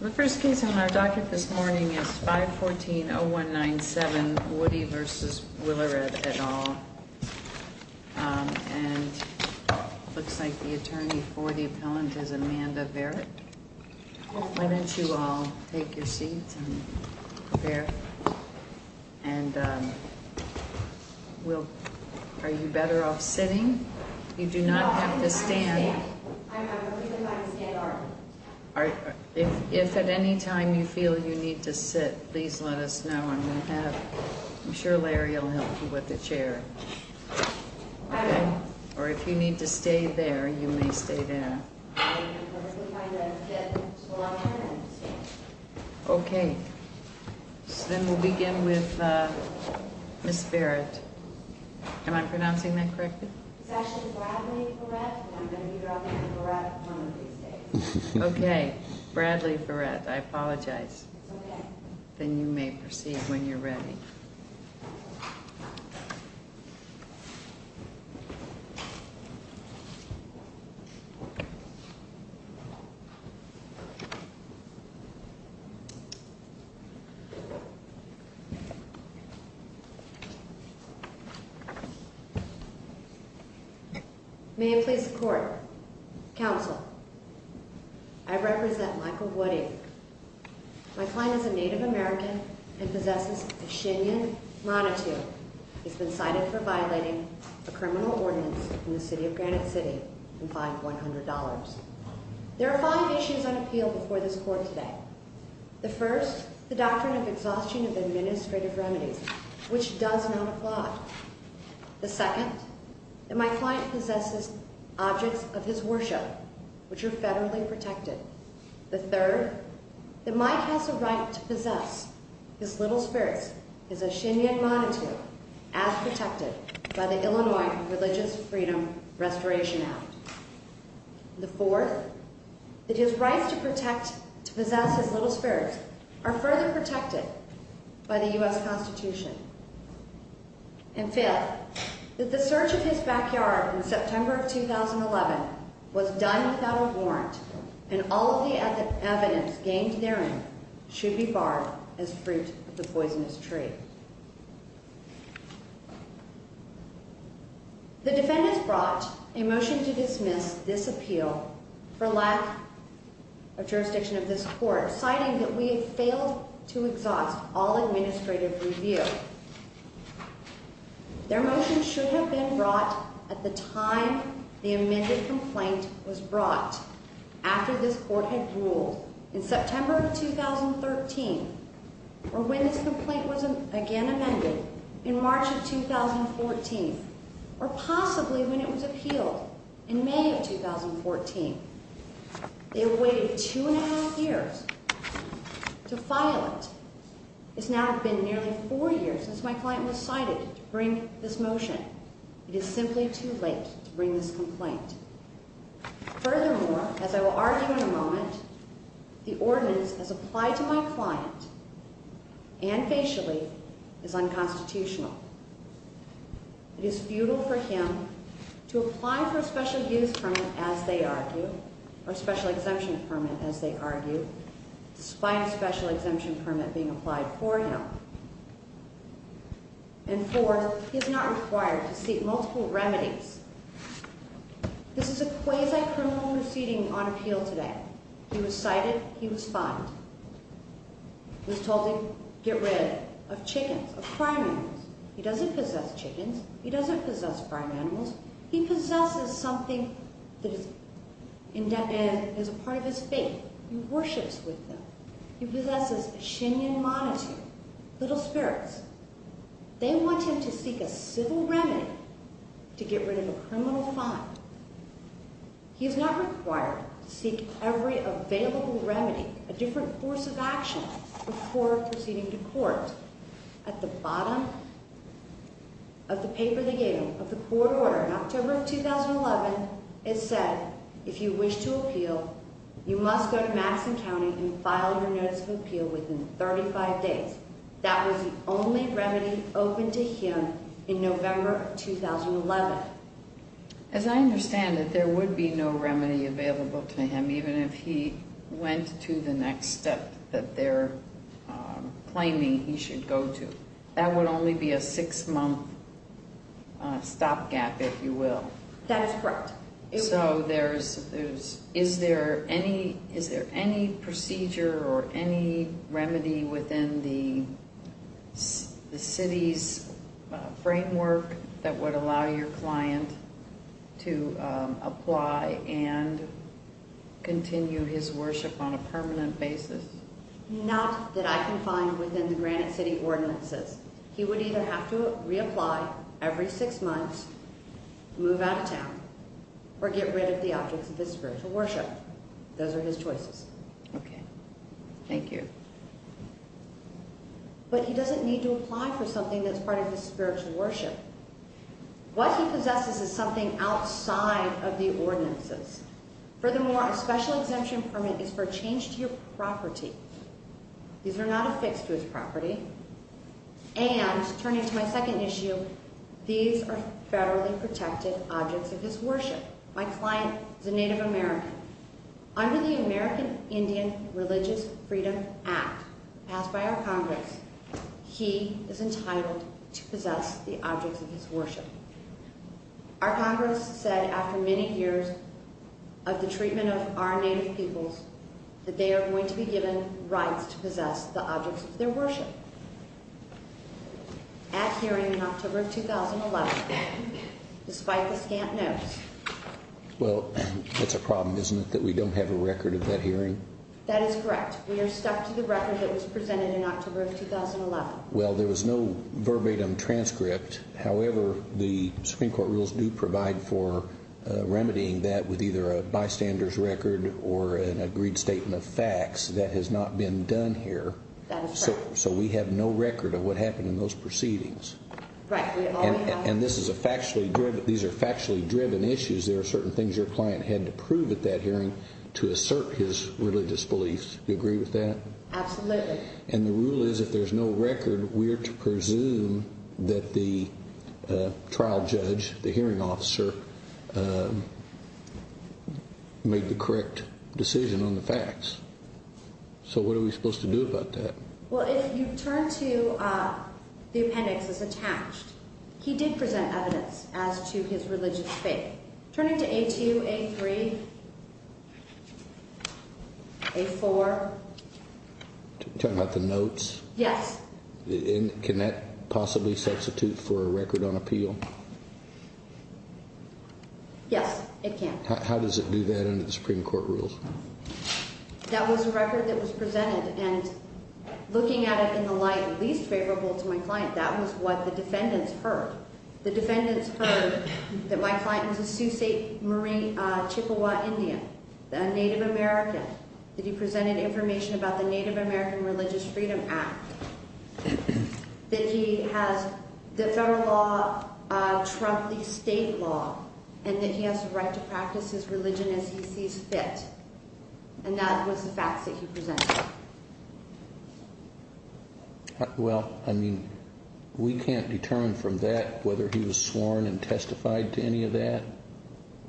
The first case on our docket this morning is 514-0197, Woody v. Willaredt et al. And it looks like the attorney for the appellant is Amanda Verrett. Why don't you all take your seats and prepare. And are you better off sitting? You do not have to stand. If at any time you feel you need to sit, please let us know. I'm sure Larry will help you with the chair. Or if you need to stay there, you may stay there. Okay. Then we'll begin with Ms. Verrett. Am I pronouncing that correctly? It's actually Bradley Verrett. I'm going to be dropping the Verrett on these days. Okay. Bradley Verrett. I apologize. It's okay. Then you may proceed when you're ready. May it please the court. Counsel, I represent Michael Woody. My client is a Native American and possesses a Shinian monitor. He's been cited for violating a criminal ordinance in the city of Granite City and fined $100. There are five issues on appeal before this court today. The first, the doctrine of exhaustion of administrative remedies, which does not apply. The second, that my client possesses objects of his worship, which are federally protected. The third, that Mike has a right to possess his little spirits, his Shinian monitor, as protected by the Illinois Religious Freedom Restoration Act. The fourth, that his rights to possess his little spirits are further protected by the U.S. Constitution. And fifth, that the search of his backyard in September of 2011 was done without a warrant and all of the evidence gained therein should be barred as fruit of the poisonous tree. The defendants brought a motion to dismiss this appeal for lack of jurisdiction of this court, citing that we have failed to exhaust all administrative review. Their motion should have been brought at the time the amended complaint was brought, after this court had ruled in September of 2013, or when this complaint was again amended in March of 2014, or possibly when it was appealed in May of 2014. They have waited two and a half years to file it. It has now been nearly four years since my client was cited to bring this motion. It is simply too late to bring this complaint. Furthermore, as I will argue in a moment, the ordinance as applied to my client, and facially, is unconstitutional. It is futile for him to apply for a special abuse permit, as they argue, or special exemption permit, as they argue, despite a special exemption permit being applied for him. And fourth, he is not required to seek multiple remedies. This is a quasi-criminal proceeding on appeal today. He was cited. He was fined. He was told to get rid of chickens, of crime animals. He doesn't possess chickens. He doesn't possess crime animals. He possesses something that is a part of his faith. He worships with them. He possesses a Shinian monothe, little spirits. They want him to seek a civil remedy to get rid of a criminal fine. He is not required to seek every available remedy, a different course of action, before proceeding to court. At the bottom of the paper they gave him of the court order in October of 2011, it said, if you wish to appeal, you must go to Madison County and file your notice of appeal within 35 days. That was the only remedy open to him in November of 2011. But, as I understand it, there would be no remedy available to him, even if he went to the next step that they're claiming he should go to. That would only be a six-month stopgap, if you will. That's correct. So, is there any procedure or any remedy within the city's framework that would allow your client to apply and continue his worship on a permanent basis? Not that I can find within the Granite City ordinances. He would either have to reapply every six months, move out of town, or get rid of the objects of his spiritual worship. Those are his choices. Okay. Thank you. But he doesn't need to apply for something that's part of his spiritual worship. What he possesses is something outside of the ordinances. Furthermore, a special exemption permit is for a change to your property. These are not affixed to his property. And, turning to my second issue, these are federally protected objects of his worship. My client is a Native American. Under the American Indian Religious Freedom Act passed by our Congress, he is entitled to possess the objects of his worship. Our Congress said, after many years of the treatment of our Native peoples, that they are going to be given rights to possess the objects of their worship. At hearing in October of 2011, despite the scant notes. Well, it's a problem, isn't it, that we don't have a record of that hearing? That is correct. We are stuck to the record that was presented in October of 2011. Well, there was no verbatim transcript. However, the Supreme Court rules do provide for remedying that with either a bystander's record or an agreed statement of facts. That has not been done here. That is correct. So we have no record of what happened in those proceedings. Right. And these are factually driven issues. There are certain things your client had to prove at that hearing to assert his religious beliefs. Do you agree with that? Absolutely. And the rule is, if there's no record, we are to presume that the trial judge, the hearing officer, made the correct decision on the facts. So what are we supposed to do about that? Well, if you turn to the appendix that's attached, he did present evidence as to his religious faith. Turning to A2, A3, A4. Are you talking about the notes? Yes. Can that possibly substitute for a record on appeal? Yes, it can. How does it do that under the Supreme Court rules? That was a record that was presented, and looking at it in the light least favorable to my client, that was what the defendants heard. The defendants heard that my client was a Sioux St. Marie Chippewa Indian, a Native American, that he presented information about the Native American Religious Freedom Act, that he has the federal law trump the state law, and that he has the right to practice his religion as he sees fit. And that was the facts that he presented. Well, I mean, we can't determine from that whether he was sworn and testified to any of that.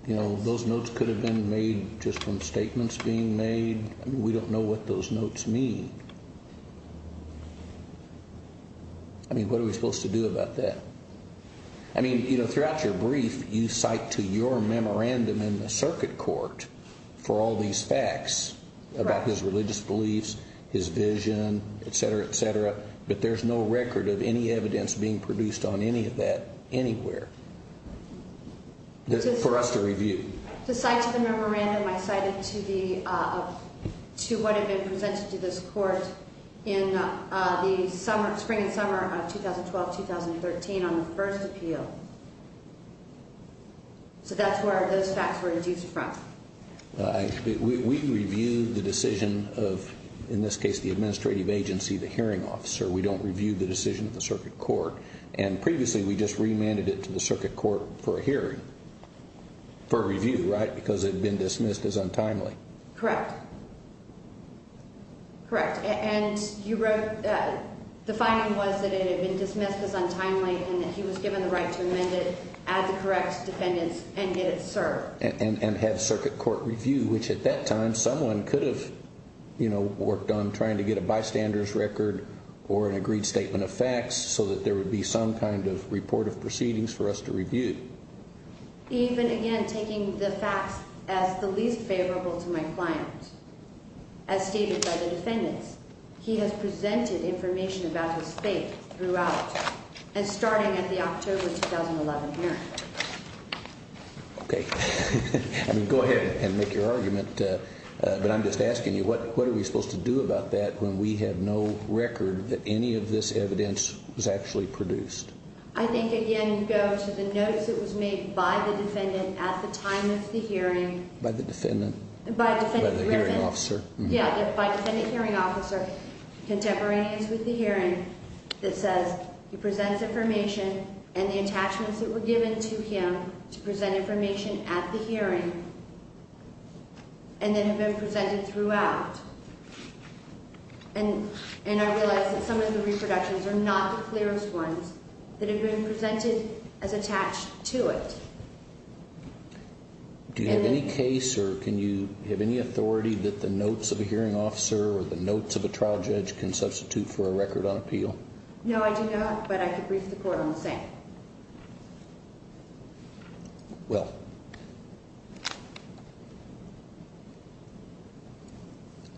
Those notes could have been made just from statements being made. We don't know what those notes mean. I mean, what are we supposed to do about that? I mean, throughout your brief, you cite to your memorandum in the circuit court for all these facts about his But there's no record of any evidence being produced on any of that anywhere for us to review. To cite to the memorandum I cited to what had been presented to this court in the spring and summer of 2012-2013 on the first appeal. So that's where those facts were adduced from. We review the decision of, in this case, the administrative agency, the hearing officer. We don't review the decision of the circuit court. And previously, we just remanded it to the circuit court for a hearing, for review, right, because it had been dismissed as untimely. Correct. Correct. And you wrote that the finding was that it had been dismissed as untimely and that he was given the right to amend it, add the correct defendants, and get it served. And have circuit court review, which at that time, someone could have, you know, worked on trying to get a bystander's record or an agreed statement of facts so that there would be some kind of report of proceedings for us to review. Even, again, taking the facts as the least favorable to my client. As stated by the defendants, he has presented information about his fate throughout and starting at the October 2011 hearing. Okay. I mean, go ahead and make your argument. But I'm just asking you, what are we supposed to do about that when we have no record that any of this evidence was actually produced? I think, again, you go to the notice that was made by the defendant at the time of the hearing. By the defendant? By the hearing officer. Yeah, by defendant hearing officer, contemporaneous with the hearing, that says he presents information and the attachments that were given to him to present information at the hearing and that have been presented throughout. And I realize that some of the reproductions are not the clearest ones that have been presented as attached to it. Do you have any case or can you have any authority that the notes of a hearing officer or the notes of a trial judge can substitute for a record on appeal? No, I do not, but I can brief the court on the same. Well,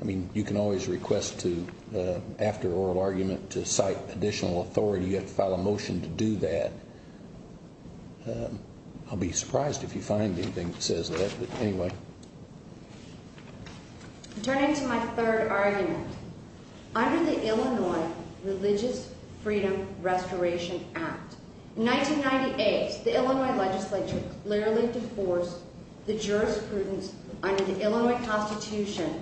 I mean, you can always request after oral argument to cite additional authority. You have to file a motion to do that. I'll be surprised if you find anything that says that, but anyway. Turning to my third argument, under the Illinois Religious Freedom Restoration Act, in 1998, the Illinois legislature clearly divorced the jurisprudence under the Illinois Constitution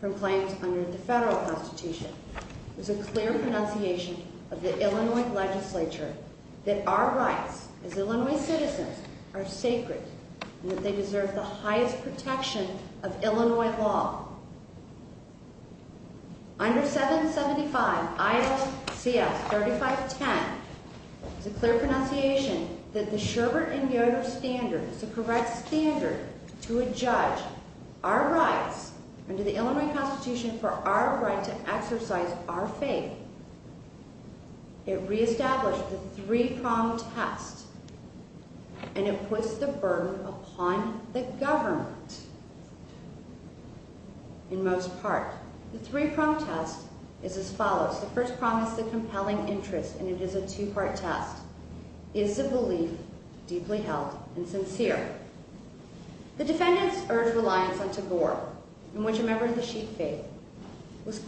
from claims under the federal constitution. It was a clear pronunciation of the Illinois legislature that our rights as Illinois citizens are sacred and that they deserve the highest protection of Illinois law. Under 775 I-3510, it was a clear pronunciation that the Sherbert and Yoder standard is the correct standard to adjudge our rights under the Illinois Constitution for our right to exercise our faith. It reestablished the three-pronged test, and it puts the burden upon the government in most part. The three-pronged test is as follows. The first prong is the compelling interest, and it is a two-part test. The defendants urged reliance on tabor, in which a member of the sheep faith was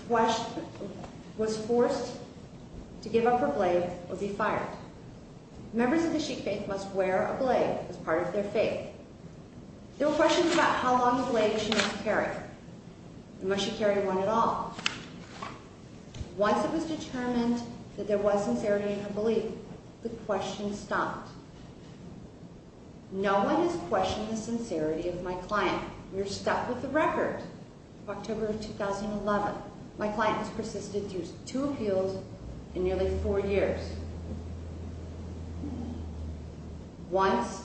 forced to give up her blade or be fired. Members of the sheep faith must wear a blade as part of their faith. There were questions about how long a blade she must carry, and must she carry one at all. Once it was determined that there was sincerity in her belief, the questions stopped. No one has questioned the sincerity of my client. We are stuck with the record of October of 2011. My client has persisted through two appeals in nearly four years. Once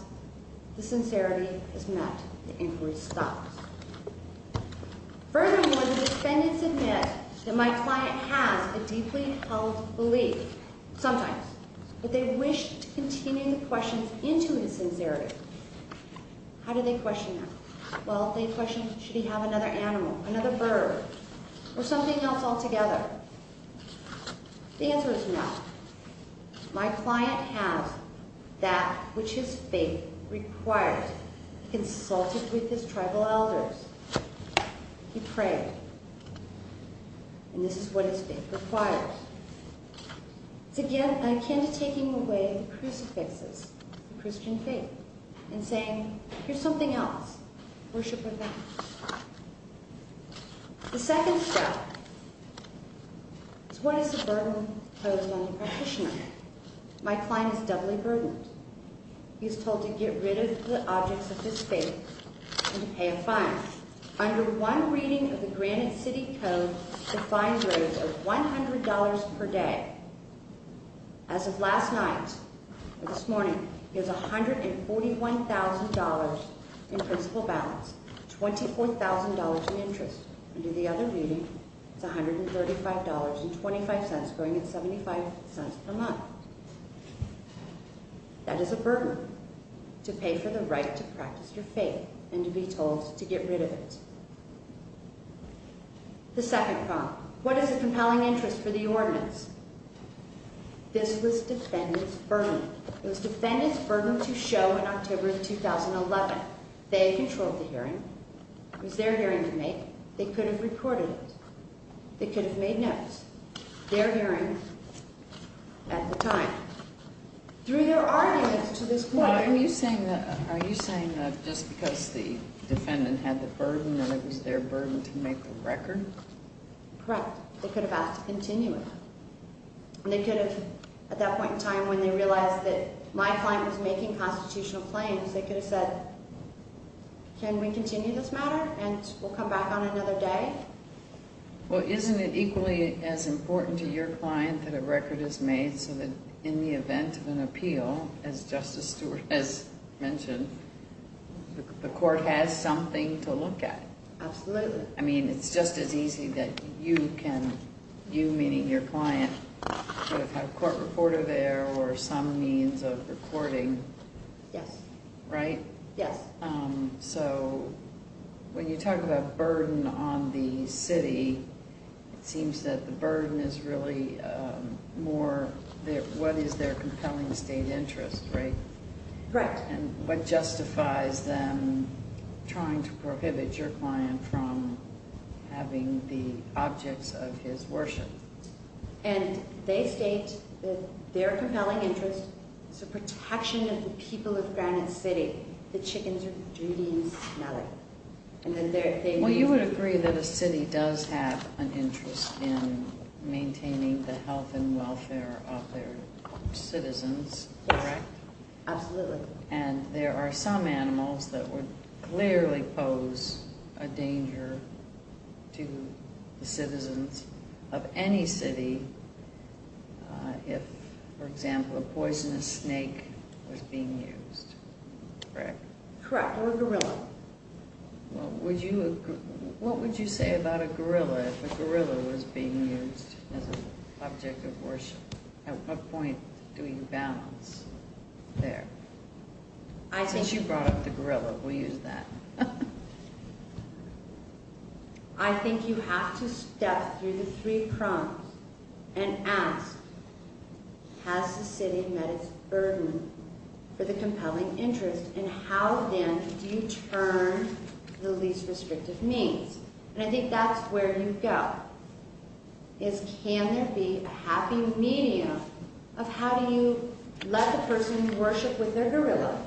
the sincerity is met, the inquiry stops. Furthermore, the defendants admit that my client has a deeply held belief, sometimes, but they wish to continue the questions into his sincerity. How do they question that? Well, they question, should he have another animal, another bird, or something else altogether? The answer is no. My client has that which his faith requires, consulted with his tribal elders. He prayed, and this is what his faith requires. It's, again, akin to taking away the crucifixes of Christian faith and saying, here's something else we should put down. The second step is what is the burden posed on the practitioner? My client is doubly burdened. He is told to get rid of the objects of his faith and to pay a fine. Under one reading of the Granite City Code, the fine rate is $100 per day. As of last night, or this morning, he has $141,000 in principal balance, $24,000 in interest. Under the other reading, it's $135.25, going at $0.75 per month. That is a burden, to pay for the right to practice your faith and to be told to get rid of it. The second problem, what is the compelling interest for the ordinance? This was defendant's burden. It was defendant's burden to show in October of 2011. They controlled the hearing. It was their hearing to make. They could have recorded it. They could have made notes. It was their hearing at the time. Through their arguments to this point. Are you saying that just because the defendant had the burden that it was their burden to make the record? Correct. They could have asked to continue it. They could have, at that point in time when they realized that my client was making constitutional claims, they could have said, can we continue this matter and we'll come back on another day? Well, isn't it equally as important to your client that a record is made so that in the event of an appeal, as Justice Stewart has mentioned, the court has something to look at? Absolutely. I mean, it's just as easy that you can, you meaning your client, could have had a court reporter there or some means of recording. Yes. Right? Yes. So when you talk about burden on the city, it seems that the burden is really more what is their compelling state interest, right? Correct. And what justifies them trying to prohibit your client from having the objects of his worship? And they state that their compelling interest is the protection of the people of Granite City. The chickens are dirty and smelly. Well, you would agree that a city does have an interest in maintaining the health and welfare of their citizens, correct? Yes, absolutely. And there are some animals that would clearly pose a danger to the citizens of any city if, for example, a poisonous snake was being used, correct? Correct, or a gorilla. What would you say about a gorilla if a gorilla was being used as an object of worship? At what point do you balance there? Since you brought up the gorilla, we'll use that. I think you have to step through the three prongs and ask, has the city met its burden for the compelling interest, and how then do you turn the least restrictive means? And I think that's where you go, is can there be a happy medium of how do you let the person worship with their gorilla?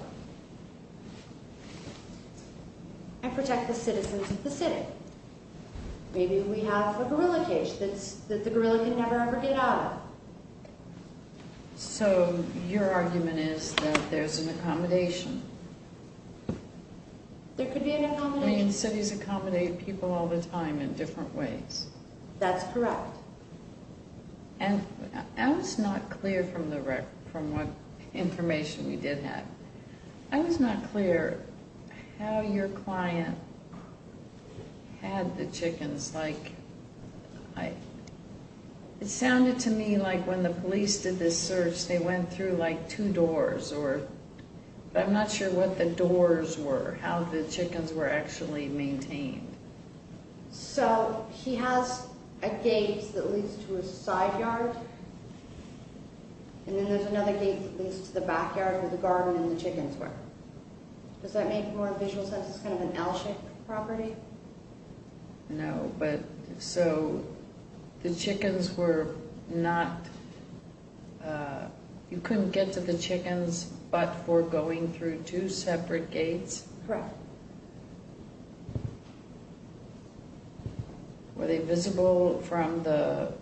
And protect the citizens of the city. Maybe we have a gorilla cage that the gorilla can never ever get out of. So your argument is that there's an accommodation. There could be an accommodation. I mean, cities accommodate people all the time in different ways. That's correct. I was not clear from what information we did have. I was not clear how your client had the chickens. It sounded to me like when the police did this search, they went through two doors. I'm not sure what the doors were, how the chickens were actually maintained. So he has a gate that leads to a side yard, and then there's another gate that leads to the backyard where the garden and the chickens were. Does that make more visual sense? It's kind of an L-shaped property. No, but so the chickens were not, you couldn't get to the chickens but for going through two separate gates? Correct. Were they visible from the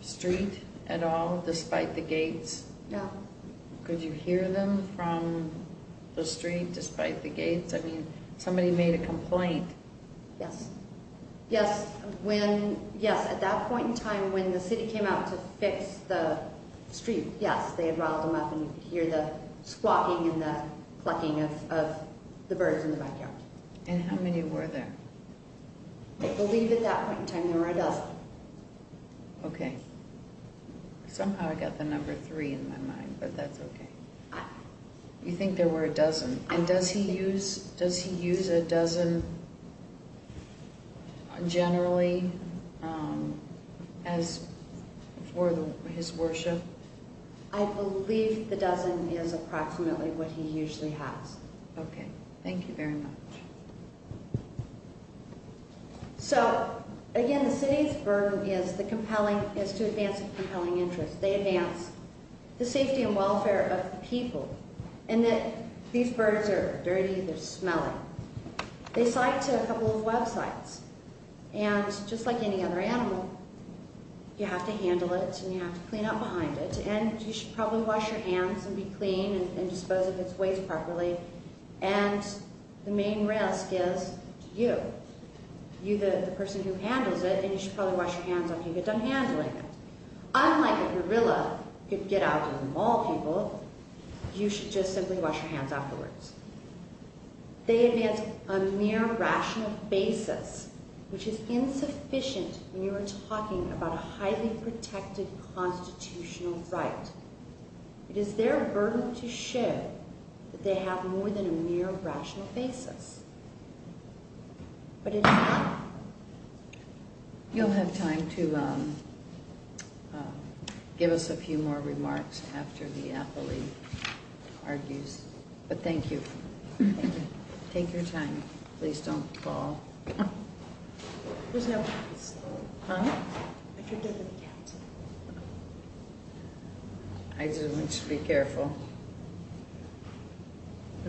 street at all despite the gates? No. Could you hear them from the street despite the gates? I mean, somebody made a complaint. Yes. Yes, at that point in time when the city came out to fix the street, yes, they had riled them up and you could hear the squawking and the clucking of the birds in the backyard. And how many were there? I believe at that point in time there were a dozen. Okay. Somehow I got the number three in my mind, but that's okay. You think there were a dozen, and does he use a dozen generally for his worship? I believe the dozen is approximately what he usually has. Okay. Thank you very much. So, again, the city's burden is to advance compelling interests. They advance the safety and welfare of the people and that these birds are dirty, they're smelly. They cite a couple of websites, and just like any other animal, you have to handle it and you have to clean up behind it. And you should probably wash your hands and be clean and dispose of its waste properly. And the main risk is you, you the person who handles it, and you should probably wash your hands after you get done handling it. Unlike a gorilla who could get out and maul people, you should just simply wash your hands afterwards. They advance a mere rational basis, which is insufficient when you are talking about a highly protected constitutional right. It is their burden to show that they have more than a mere rational basis. What did I have? You'll have time to give us a few more remarks after the appellee argues. But thank you. Thank you. Take your time. Please don't fall. There's no place. Huh? I could go to the council. I just want you to be careful.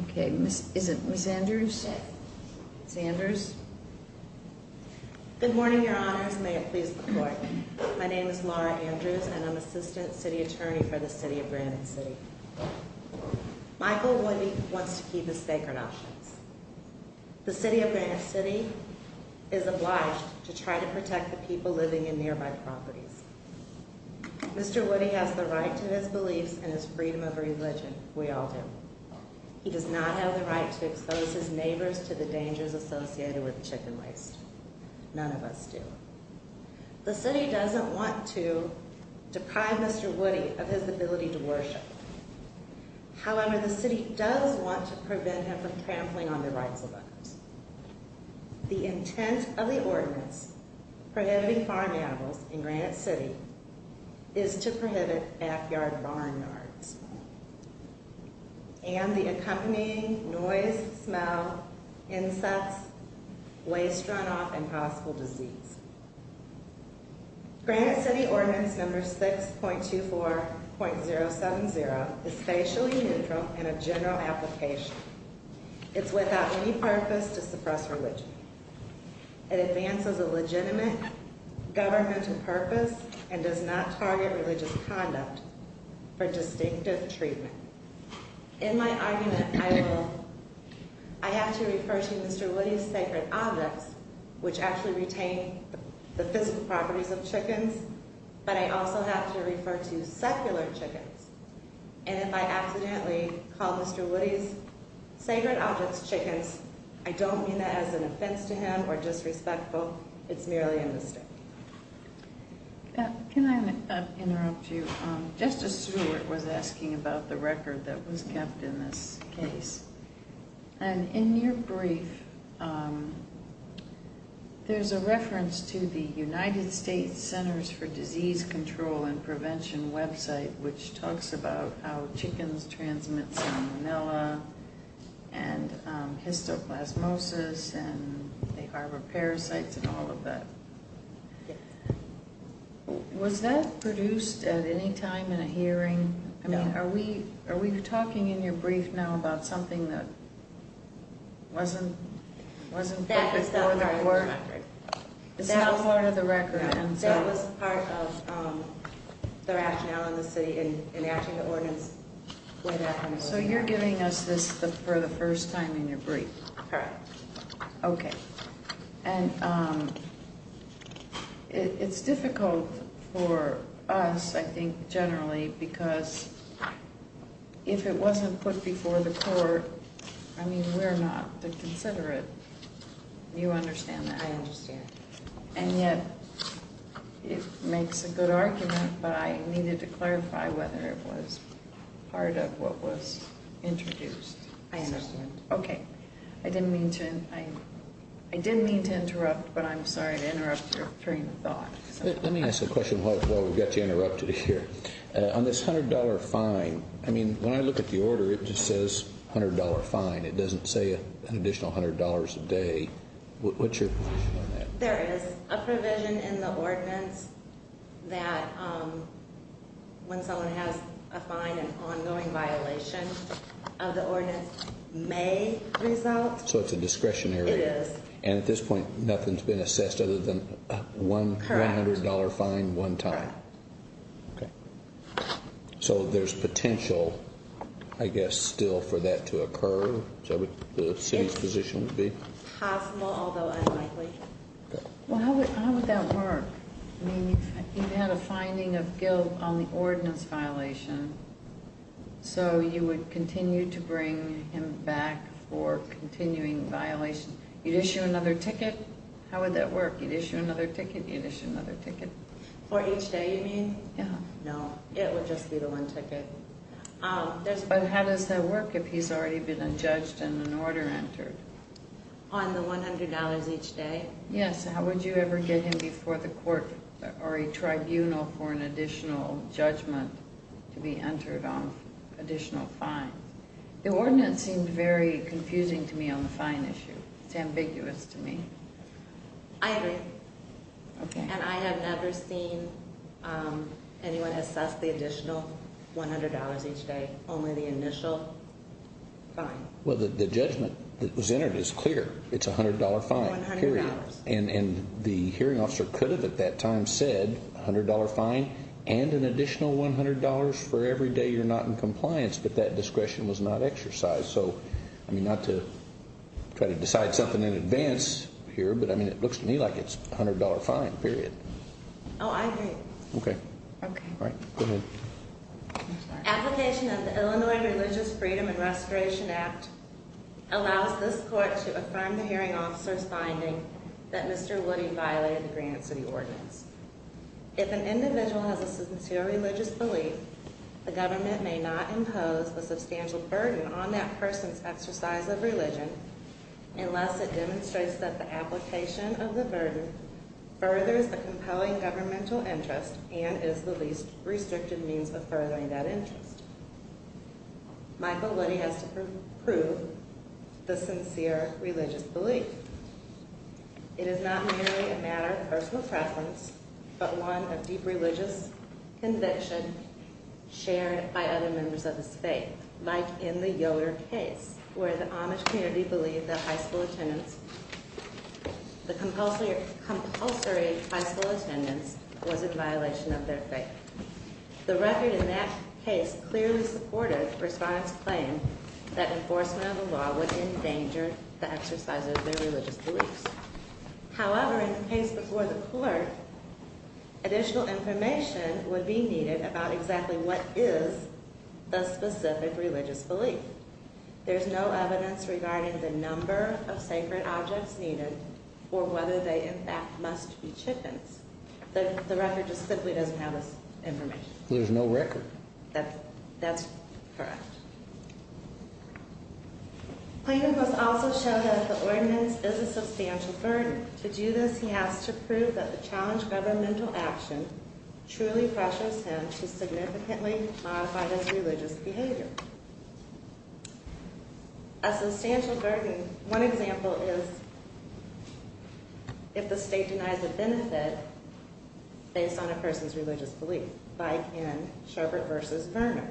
Okay. Is it Ms. Andrews? Ms. Andrews? Good morning, Your Honors. May it please the Court. My name is Laura Andrews, and I'm Assistant City Attorney for the City of Granite City. Michael Woody wants to keep his sacred options. The City of Granite City is obliged to try to protect the people living in nearby properties. Mr. Woody has the right to his beliefs and his freedom of religion. We all do. He does not have the right to expose his neighbors to the dangers associated with chicken waste. None of us do. The City doesn't want to deprive Mr. Woody of his ability to worship. However, the City does want to prevent him from trampling on the rights of others. The intent of the ordinance prohibiting farm animals in Granite City is to prohibit backyard barn yards. And the accompanying noise, smell, insects, waste runoff, and possible disease. Granite City Ordinance No. 6.24.070 is facially neutral in a general application. It's without any purpose to suppress religion. It advances a legitimate governmental purpose and does not target religious conduct for distinctive treatment. In my argument, I have to refer to Mr. Woody's sacred objects, which actually retain the physical properties of chickens. But I also have to refer to secular chickens. And if I accidentally call Mr. Woody's sacred objects chickens, I don't mean that as an offense to him or disrespectful. It's merely a mistake. Can I interrupt you? Justice Stewart was asking about the record that was kept in this case. And in your brief, there's a reference to the United States Centers for Disease Control and Prevention website, which talks about how chickens transmit salmonella and histoplasmosis and they harbor parasites and all of that. Was that produced at any time in a hearing? Are we talking in your brief now about something that wasn't put before the court? It's not part of the record. That was part of the rationale in the city in enacting the ordinance. So you're giving us this for the first time in your brief? Correct. Okay. And it's difficult for us, I think, generally, because if it wasn't put before the court, I mean, we're not the considerate. You understand that? I understand. And yet it makes a good argument, but I needed to clarify whether it was part of what was introduced. I understand. I didn't mean to interrupt, but I'm sorry to interrupt your train of thought. Let me ask a question while we've got you interrupted here. On this $100 fine, I mean, when I look at the order, it just says $100 fine. It doesn't say an additional $100 a day. What's your position on that? There is a provision in the ordinance that when someone has a fine, an ongoing violation of the ordinance may result. So it's a discretionary? It is. And at this point, nothing's been assessed other than a $100 fine one time? Correct. So there's potential, I guess, still for that to occur? Is that what the city's position would be? It's possible, although unlikely. Well, how would that work? You had a finding of guilt on the ordinance violation, so you would continue to bring him back for continuing violations. You'd issue another ticket? How would that work? You'd issue another ticket, you'd issue another ticket. For each day, you mean? No, it would just be the one ticket. But how does that work if he's already been adjudged and an order entered? On the $100 each day? Yes. How would you ever get him before the court or a tribunal for an additional judgment to be entered on additional fines? The ordinance seemed very confusing to me on the fine issue. It's ambiguous to me. I agree. And I have never seen anyone assess the additional $100 each day, only the initial fine. Well, the judgment that was entered is clear. It's a $100 fine. Period. And the hearing officer could have at that time said, $100 fine and an additional $100 for every day you're not in compliance, but that discretion was not exercised. So, I mean, not to try to decide something in advance here, but it looks to me like it's a $100 fine. Period. Oh, I agree. Okay. Go ahead. Application of the Illinois Religious Freedom and Restoration Act allows this court to affirm the hearing officer's finding that Mr. Woody violated the Granite City Ordinance. If an individual has a sincere religious belief, the government may not impose a substantial burden on that person's exercise of religion unless it demonstrates that the application of the burden furthers the compelling governmental interest and is the least restrictive means of furthering that interest. Michael Woody has to prove the sincere religious belief. It is not merely a matter of personal preference, but one of deep religious conviction shared by other members of his faith. Like in the Yoder case, where the Amish community believed that compulsory high school attendance was in violation of their faith. The record in that case clearly supported Respondent's claim that enforcement of the law would endanger the exercise of their religious beliefs. However, in the case before the court, additional information would be needed about exactly what is the specific religious belief. There's no evidence regarding the number of sacred objects needed or whether they, in fact, must be chickens. The record just simply doesn't have this information. There's no record. That's correct. Plaintiff must also show that the ordinance is a substantial burden. To do this, he has to prove that the challenged governmental action truly pressures him to significantly modify his religious behavior. A substantial burden. One example is if the state denies a benefit based on a person's religious belief. Like in Sherbert v. Verner.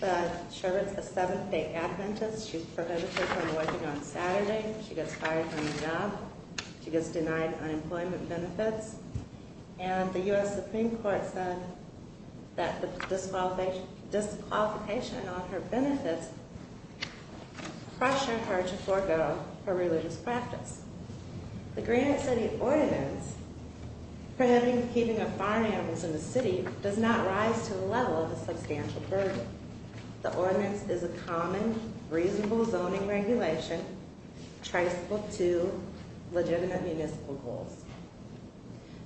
But Sherbert's a seventh-day Adventist. She's prohibited from working on Saturday. She gets fired from the job. She gets denied unemployment benefits. And the U.S. Supreme Court said that the disqualification on her benefits pressured her to forego her religious practice. The Greenwich City Ordinance prohibiting the keeping of firearms in the city does not rise to the level of a substantial burden. The ordinance is a common, reasonable zoning regulation traceable to legitimate municipal goals.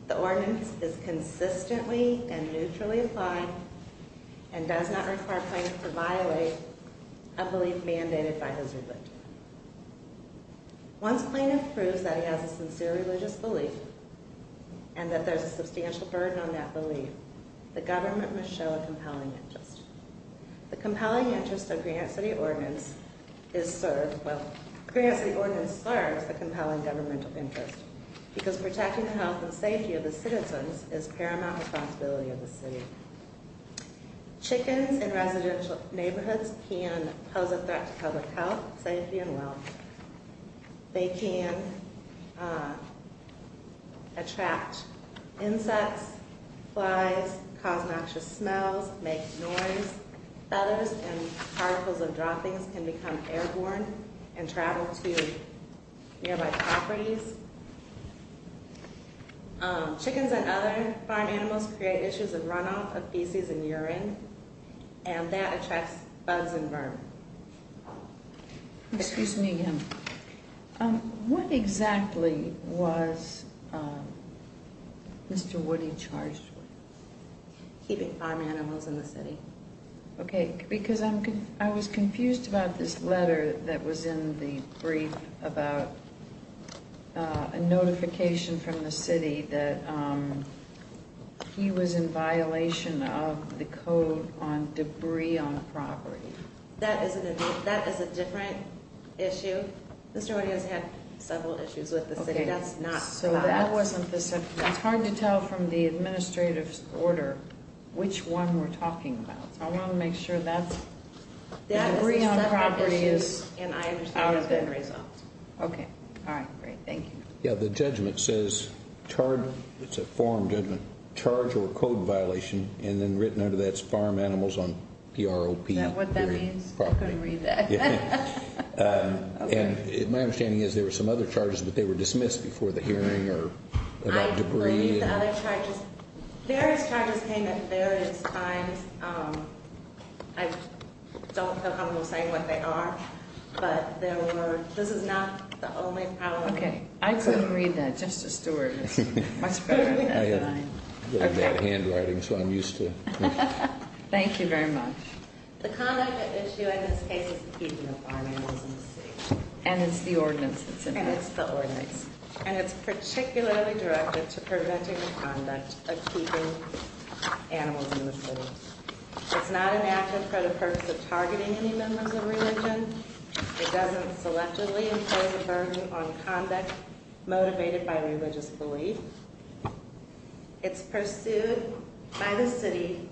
The ordinance is consistently and neutrally applied and does not require plaintiff to violate a belief mandated by his religion. Once plaintiff proves that he has a sincere religious belief and that there's a substantial burden on that belief, the government must show a compelling interest. The compelling interest of Greenwich City Ordinance is served, well, Greenwich City Ordinance serves the compelling governmental interest. Because protecting the health and safety of the citizens is paramount responsibility of the city. Chickens in residential neighborhoods can pose a threat to public health, safety, and wealth. They can attract insects, flies, cause noxious smells, make noise. Feathers and particles of droppings can become airborne and travel to nearby properties. Chickens and other farm animals create issues of runoff of feces and urine. And that attracts bugs and worms. Excuse me again. What exactly was Mr. Woody charged with? Keeping farm animals in the city. Okay, because I was confused about this letter that was in the brief about a notification from the city that he was in violation of the Code on Debris on Property. That is a different issue. Mr. Woody has had several issues with the city. That's not the law. It's hard to tell from the administrative order which one we're talking about. I want to make sure that the debris on property is out of it. Okay, all right, great, thank you. Yeah, the judgment says, it's a forum judgment, charge or code violation, and then written under that is farm animals on PROP. Is that what that means? I couldn't read that. My understanding is there were some other charges, but they were dismissed before the hearing about debris. I believe the other charges, various charges came at various times. I don't feel comfortable saying what they are, but this is not the only problem. Okay, I couldn't read that. Justice Stewart is much better at it than I am. I have really bad handwriting, so I'm used to it. Thank you very much. The conduct at issue in this case is the keeping of farm animals in the city. And it's the ordinance. And it's particularly directed to preventing the conduct of keeping animals in the city. It's not enacted for the purpose of targeting any members of religion. It doesn't selectively impose a burden on conduct motivated by religious belief. It's pursued by the city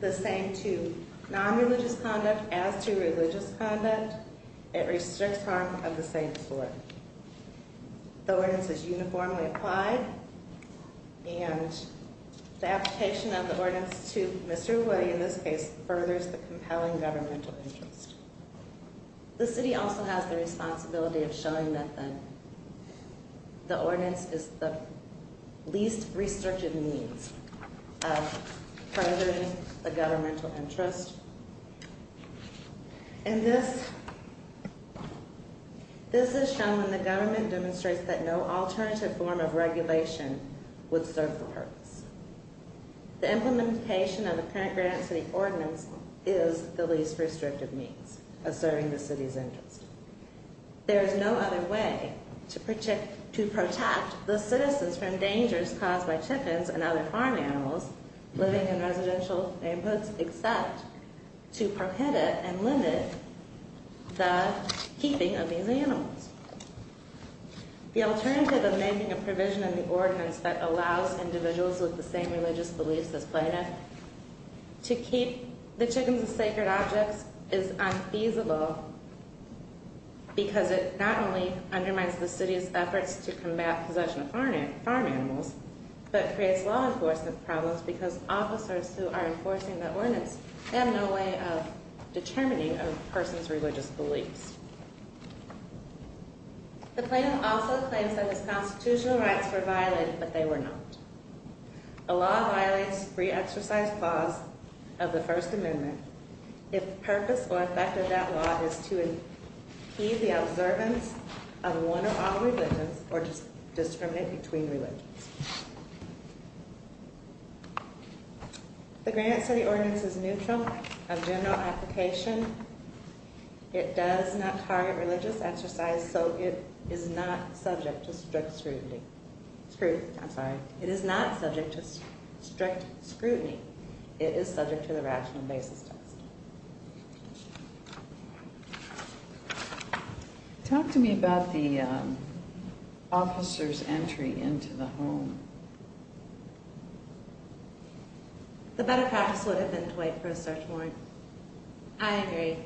the same to non-religious conduct as to religious conduct. It restricts harm of the same sort. The ordinance is uniformly applied. And the application of the ordinance to Mr. Woody in this case furthers the compelling governmental interest. The city also has the responsibility of showing that then. The ordinance is the least restrictive means of furthering the governmental interest. And this is shown when the government demonstrates that no alternative form of regulation would serve the purpose. The implementation of the current Grand City Ordinance is the least restrictive means of serving the city's interest. There is no other way to protect the citizens from dangers caused by chickens and other farm animals living in residential neighborhoods except to prohibit and limit the keeping of these animals. The alternative of making a provision in the ordinance that allows individuals with the same religious beliefs as Plano to keep the chickens as sacred objects is unfeasible. Because it not only undermines the city's efforts to combat possession of farm animals, but creates law enforcement problems because officers who are enforcing the ordinance have no way of determining a person's religious beliefs. The Plano also claims that his constitutional rights were violated, but they were not. A law violates pre-exercised laws of the First Amendment if the purpose or effect of that law is to impede the observance of one or all religions or discriminate between religions. The Grand City Ordinance is neutral of general application. It does not target religious exercise, so it is not subject to strict scrutiny. It is not subject to strict scrutiny. It is subject to the rational basis test. Talk to me about the officer's entry into the home. The better practice would have been to wait for a search warrant. I agree.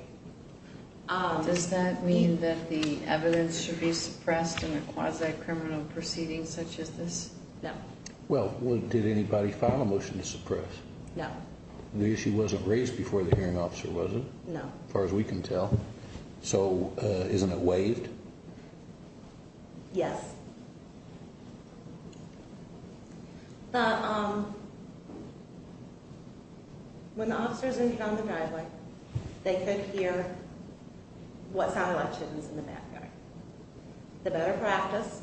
Does that mean that the evidence should be suppressed in a quasi-criminal proceeding such as this? No. Well, did anybody file a motion to suppress? No. The issue wasn't raised before the hearing officer, was it? No. As far as we can tell. So, isn't it waived? Yes. When the officers entered on the driveway, they could hear what sounded like chickens in the backyard. The better practice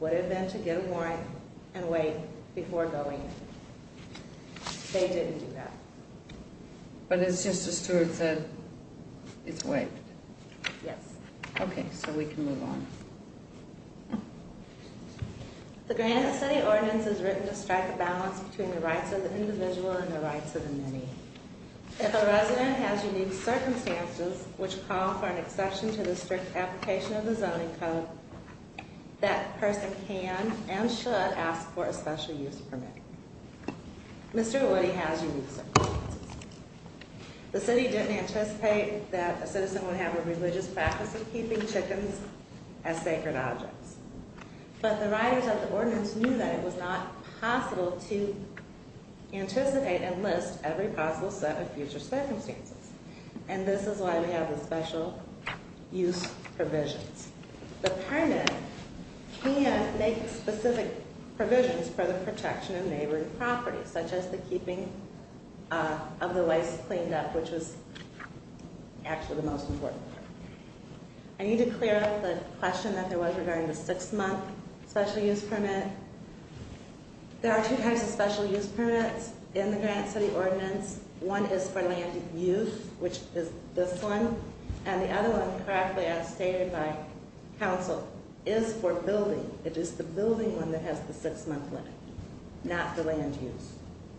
would have been to get a warrant and wait before going in. They didn't do that. But as Sister Stewart said, it's waived. Yes. Okay, so we can move on. The Grand City Ordinance is written to strike a balance between the rights of the individual and the rights of the many. If a resident has unique circumstances which call for an exception to the strict application of the Zoning Code, that person can and should ask for a special use permit. Mr. Woody has unique circumstances. The city didn't anticipate that a citizen would have a religious practice of keeping chickens as sacred objects. But the writers of the ordinance knew that it was not possible to anticipate and list every possible set of future circumstances. And this is why we have the special use provisions. The permit can make specific provisions for the protection of neighboring properties, such as the keeping of the waste cleaned up, which was actually the most important part. I need to clear up the question that there was regarding the six-month special use permit. There are two types of special use permits in the Grand City Ordinance. One is for land use, which is this one. And the other one, correctly as stated by Council, is for building. It is the building one that has the six-month limit, not the land use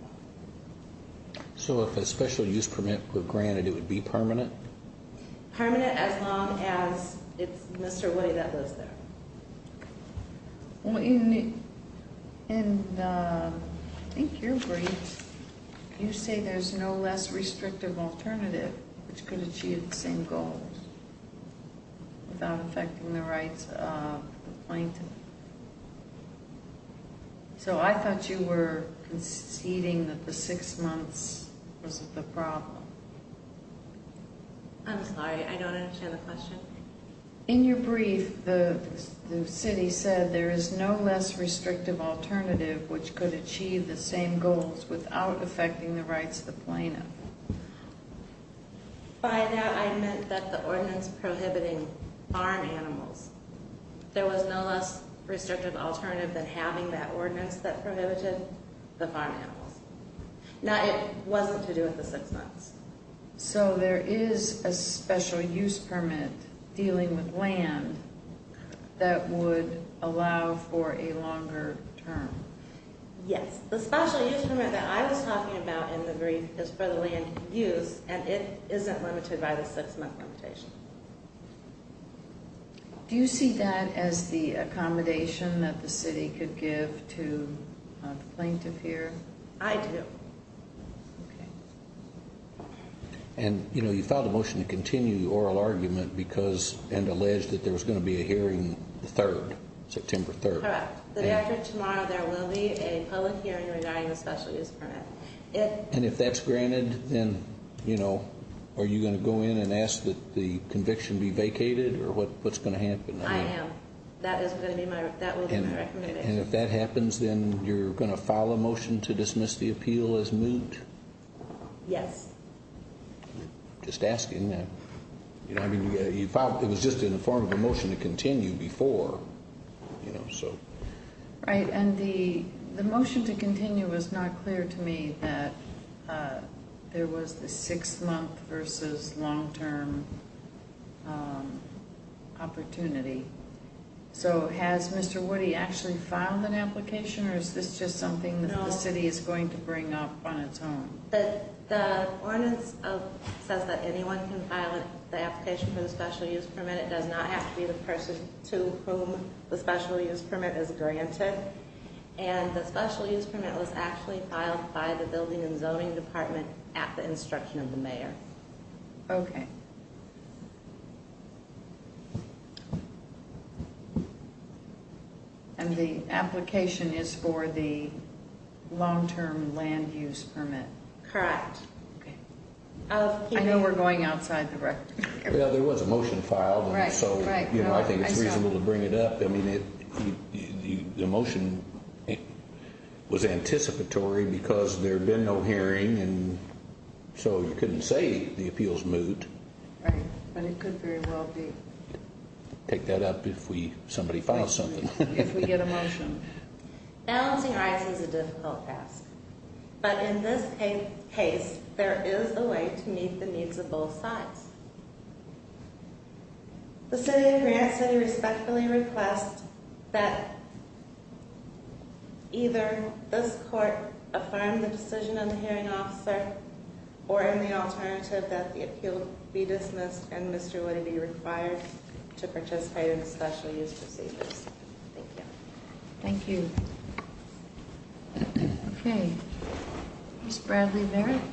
one. So if a special use permit were granted, it would be permanent? Permanent as long as it's Mr. Woody that lives there. In your brief, you say there's no less restrictive alternative which could achieve the same goals without affecting the rights of the plaintiff. So I thought you were conceding that the six months was the problem. I'm sorry, I don't understand the question. In your brief, the city said there is no less restrictive alternative which could achieve the same goals without affecting the rights of the plaintiff. By that, I meant that the ordinance prohibiting farm animals. There was no less restrictive alternative than having that ordinance that prohibited the farm animals. Now, it wasn't to do with the six months. So there is a special use permit dealing with land that would allow for a longer term. Yes. The special use permit that I was talking about in the brief is for the land use, and it isn't limited by the six-month limitation. Do you see that as the accommodation that the city could give to the plaintiff here? I do. Okay. And, you know, you filed a motion to continue the oral argument because, and alleged that there was going to be a hearing the 3rd, September 3rd. Correct. The day after tomorrow, there will be a public hearing regarding the special use permit. And if that's granted, then, you know, are you going to go in and ask that the conviction be vacated or what's going to happen? I am. That will be my recommendation. And if that happens, then you're going to file a motion to dismiss the appeal as moot? Yes. Just asking. I mean, you filed, it was just in the form of a motion to continue before, you know, so. Right. And the motion to continue was not clear to me that there was the six-month versus long-term opportunity. So has Mr. Woody actually filed an application or is this just something that the city is going to bring up on its own? The ordinance says that anyone can file the application for the special use permit. It does not have to be the person to whom the special use permit is granted. And the special use permit was actually filed by the building and zoning department at the instruction of the mayor. Okay. And the application is for the long-term land use permit. Correct. I know we're going outside the record. Well, there was a motion filed. Right. So, you know, I think it's reasonable to bring it up. I mean, the motion was anticipatory because there had been no hearing. And so you couldn't say the appeals moved. Right. But it could very well be. Pick that up if somebody files something. If we get a motion. Balancing rights is a difficult task. But in this case, there is a way to meet the needs of both sides. The city of Grand City respectfully requests that either this court affirm the decision of the hearing officer or in the alternative that the appeal be dismissed and Mr. Woody be required to participate in the special use procedures. Thank you. Thank you. Okay. Ms. Bradley Barrett. Yes.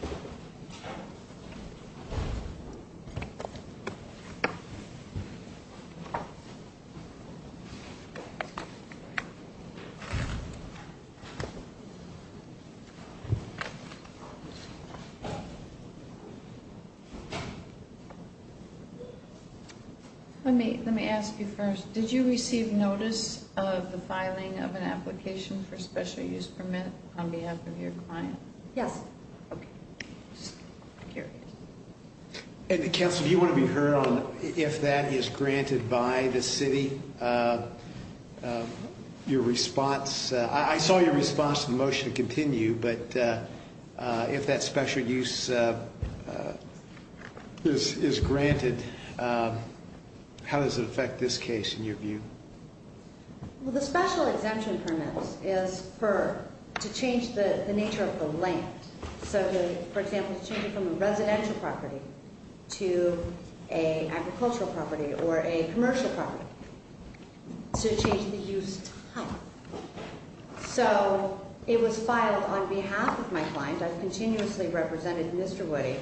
Let me let me ask you first. Did you receive notice of the filing of an application for special use permit on behalf of your client? Yes. Here. And the council, you want to be heard on if that is granted by the city. Your response. I saw your response to the motion to continue. But if that special use is granted, how does it affect this case in your view? Well, the special exemption permits is for to change the nature of the land. So, for example, changing from a residential property to a agricultural property or a commercial property to change the use type. So it was filed on behalf of my client. I've continuously represented Mr. Woody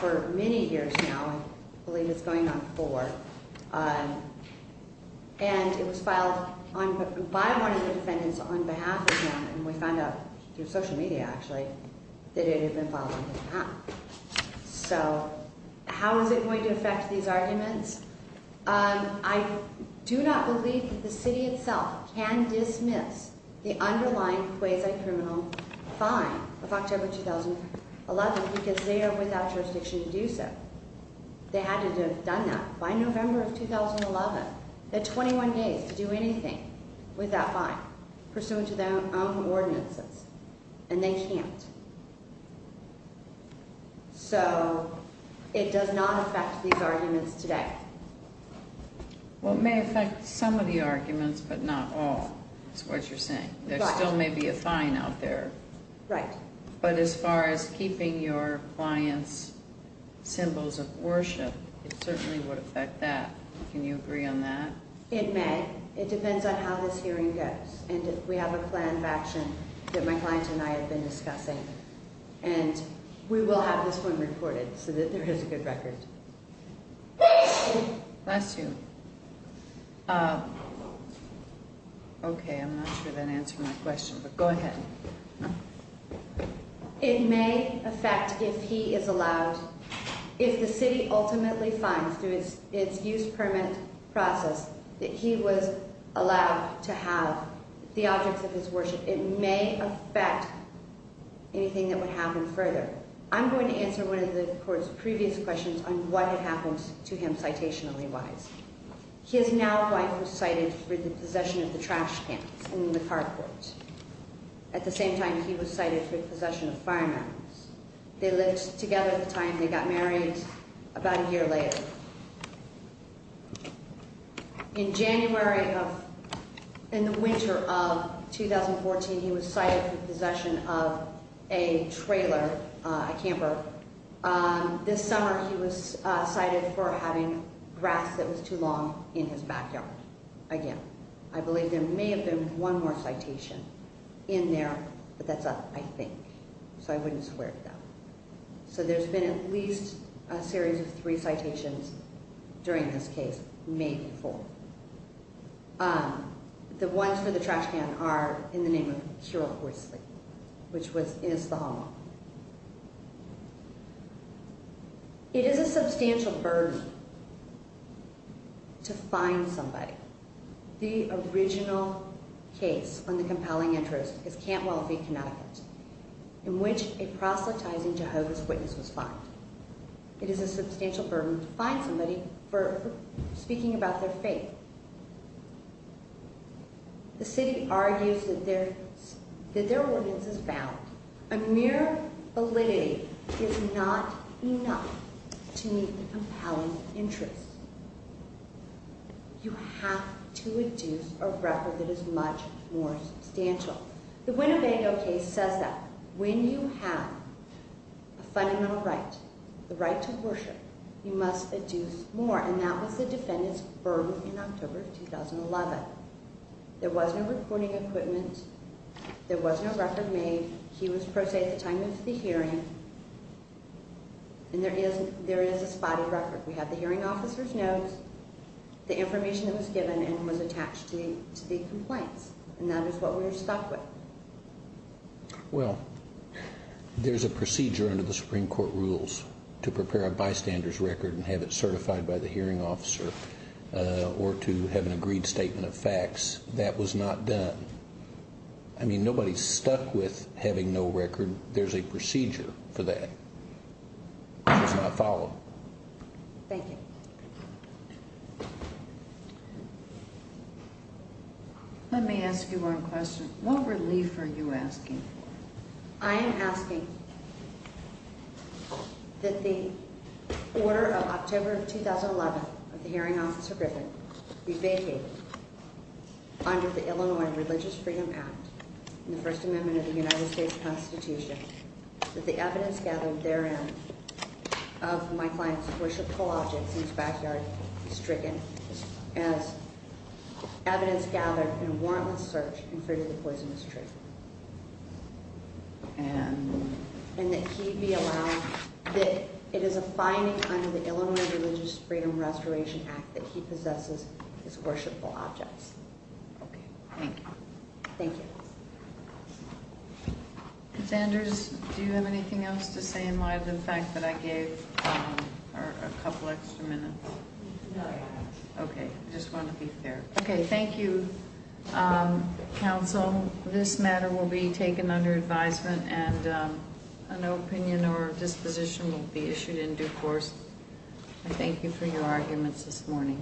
for many years now. I believe it's going on for and it was filed by one of the defendants on behalf of him. And we found out through social media, actually, that it had been filed on behalf. So how is it going to affect these arguments? I do not believe that the city itself can dismiss the underlying quasi criminal fine of October 2011 because they are without jurisdiction to do so. They had to have done that by November of 2011. They had 21 days to do anything with that fine pursuant to their own ordinances. And they can't. So it does not affect these arguments today. Well, it may affect some of the arguments, but not all is what you're saying. There still may be a fine out there. Right. But as far as keeping your client's symbols of worship, it certainly would affect that. Can you agree on that? It may. It depends on how this hearing goes. And we have a plan of action that my client and I have been discussing. And we will have this one reported so that there is a good record. Bless you. Okay, I'm not sure that answered my question, but go ahead. It may affect, if he is allowed, if the city ultimately finds through its use permit process that he was allowed to have the objects of his worship, it may affect anything that would happen further. I'm going to answer one of the court's previous questions on what had happened to him citationally wise. His now wife was cited for the possession of the trash cans in the carport. At the same time, he was cited for the possession of firearms. They lived together at the time. They got married about a year later. In January of, in the winter of 2014, he was cited for the possession of a trailer, a camper. This summer, he was cited for having grass that was too long in his backyard. Again, I believe there may have been one more citation in there, but that's up, I think, so I wouldn't swear to that. So there's been at least a series of three citations during this case, maybe four. The ones for the trash can are in the name of Kiril Horsley, which was, is the homeowner. It is a substantial burden to find somebody. The original case on the compelling interest is Cantwell v. Connecticut, in which a proselytizing Jehovah's Witness was fined. It is a substantial burden to find somebody for speaking about their faith. The city argues that their, that their ordinance is valid. A mere validity is not enough to meet the compelling interest. You have to adduce a record that is much more substantial. The Winnebago case says that. When you have a fundamental right, the right to worship, you must adduce more. And that was the defendant's burden in October of 2011. There was no recording equipment. There was no record made. He was pro se at the time of the hearing, and there is, there is a spotted record. We have the hearing officer's notes, the information that was given, and was attached to the complaints. And that is what we were stuck with. Well, there's a procedure under the Supreme Court rules to prepare a bystander's record and have it certified by the hearing officer, or to have an agreed statement of facts. That was not done. I mean, nobody's stuck with having no record. There's a procedure for that. I just want to follow up. Thank you. Let me ask you one question. What relief are you asking for? I am asking that the order of October of 2011 of the hearing officer Griffith be vacated under the Illinois Religious Freedom Act and the First Amendment of the United States Constitution, that the evidence gathered therein of my client's worshipful objects in his backyard be stricken as evidence gathered in a warrantless search in favor of the poisonous tree. And that he be allowed, that it is a finding under the Illinois Religious Freedom Restoration Act that he possesses his worshipful objects. Okay. Thank you. Thank you. Ms. Anders, do you have anything else to say in light of the fact that I gave her a couple extra minutes? No, I don't. Okay. I just want to be fair. Okay. Thank you, counsel. This matter will be taken under advisement and an opinion or disposition will be issued in due course. I thank you for your arguments this morning.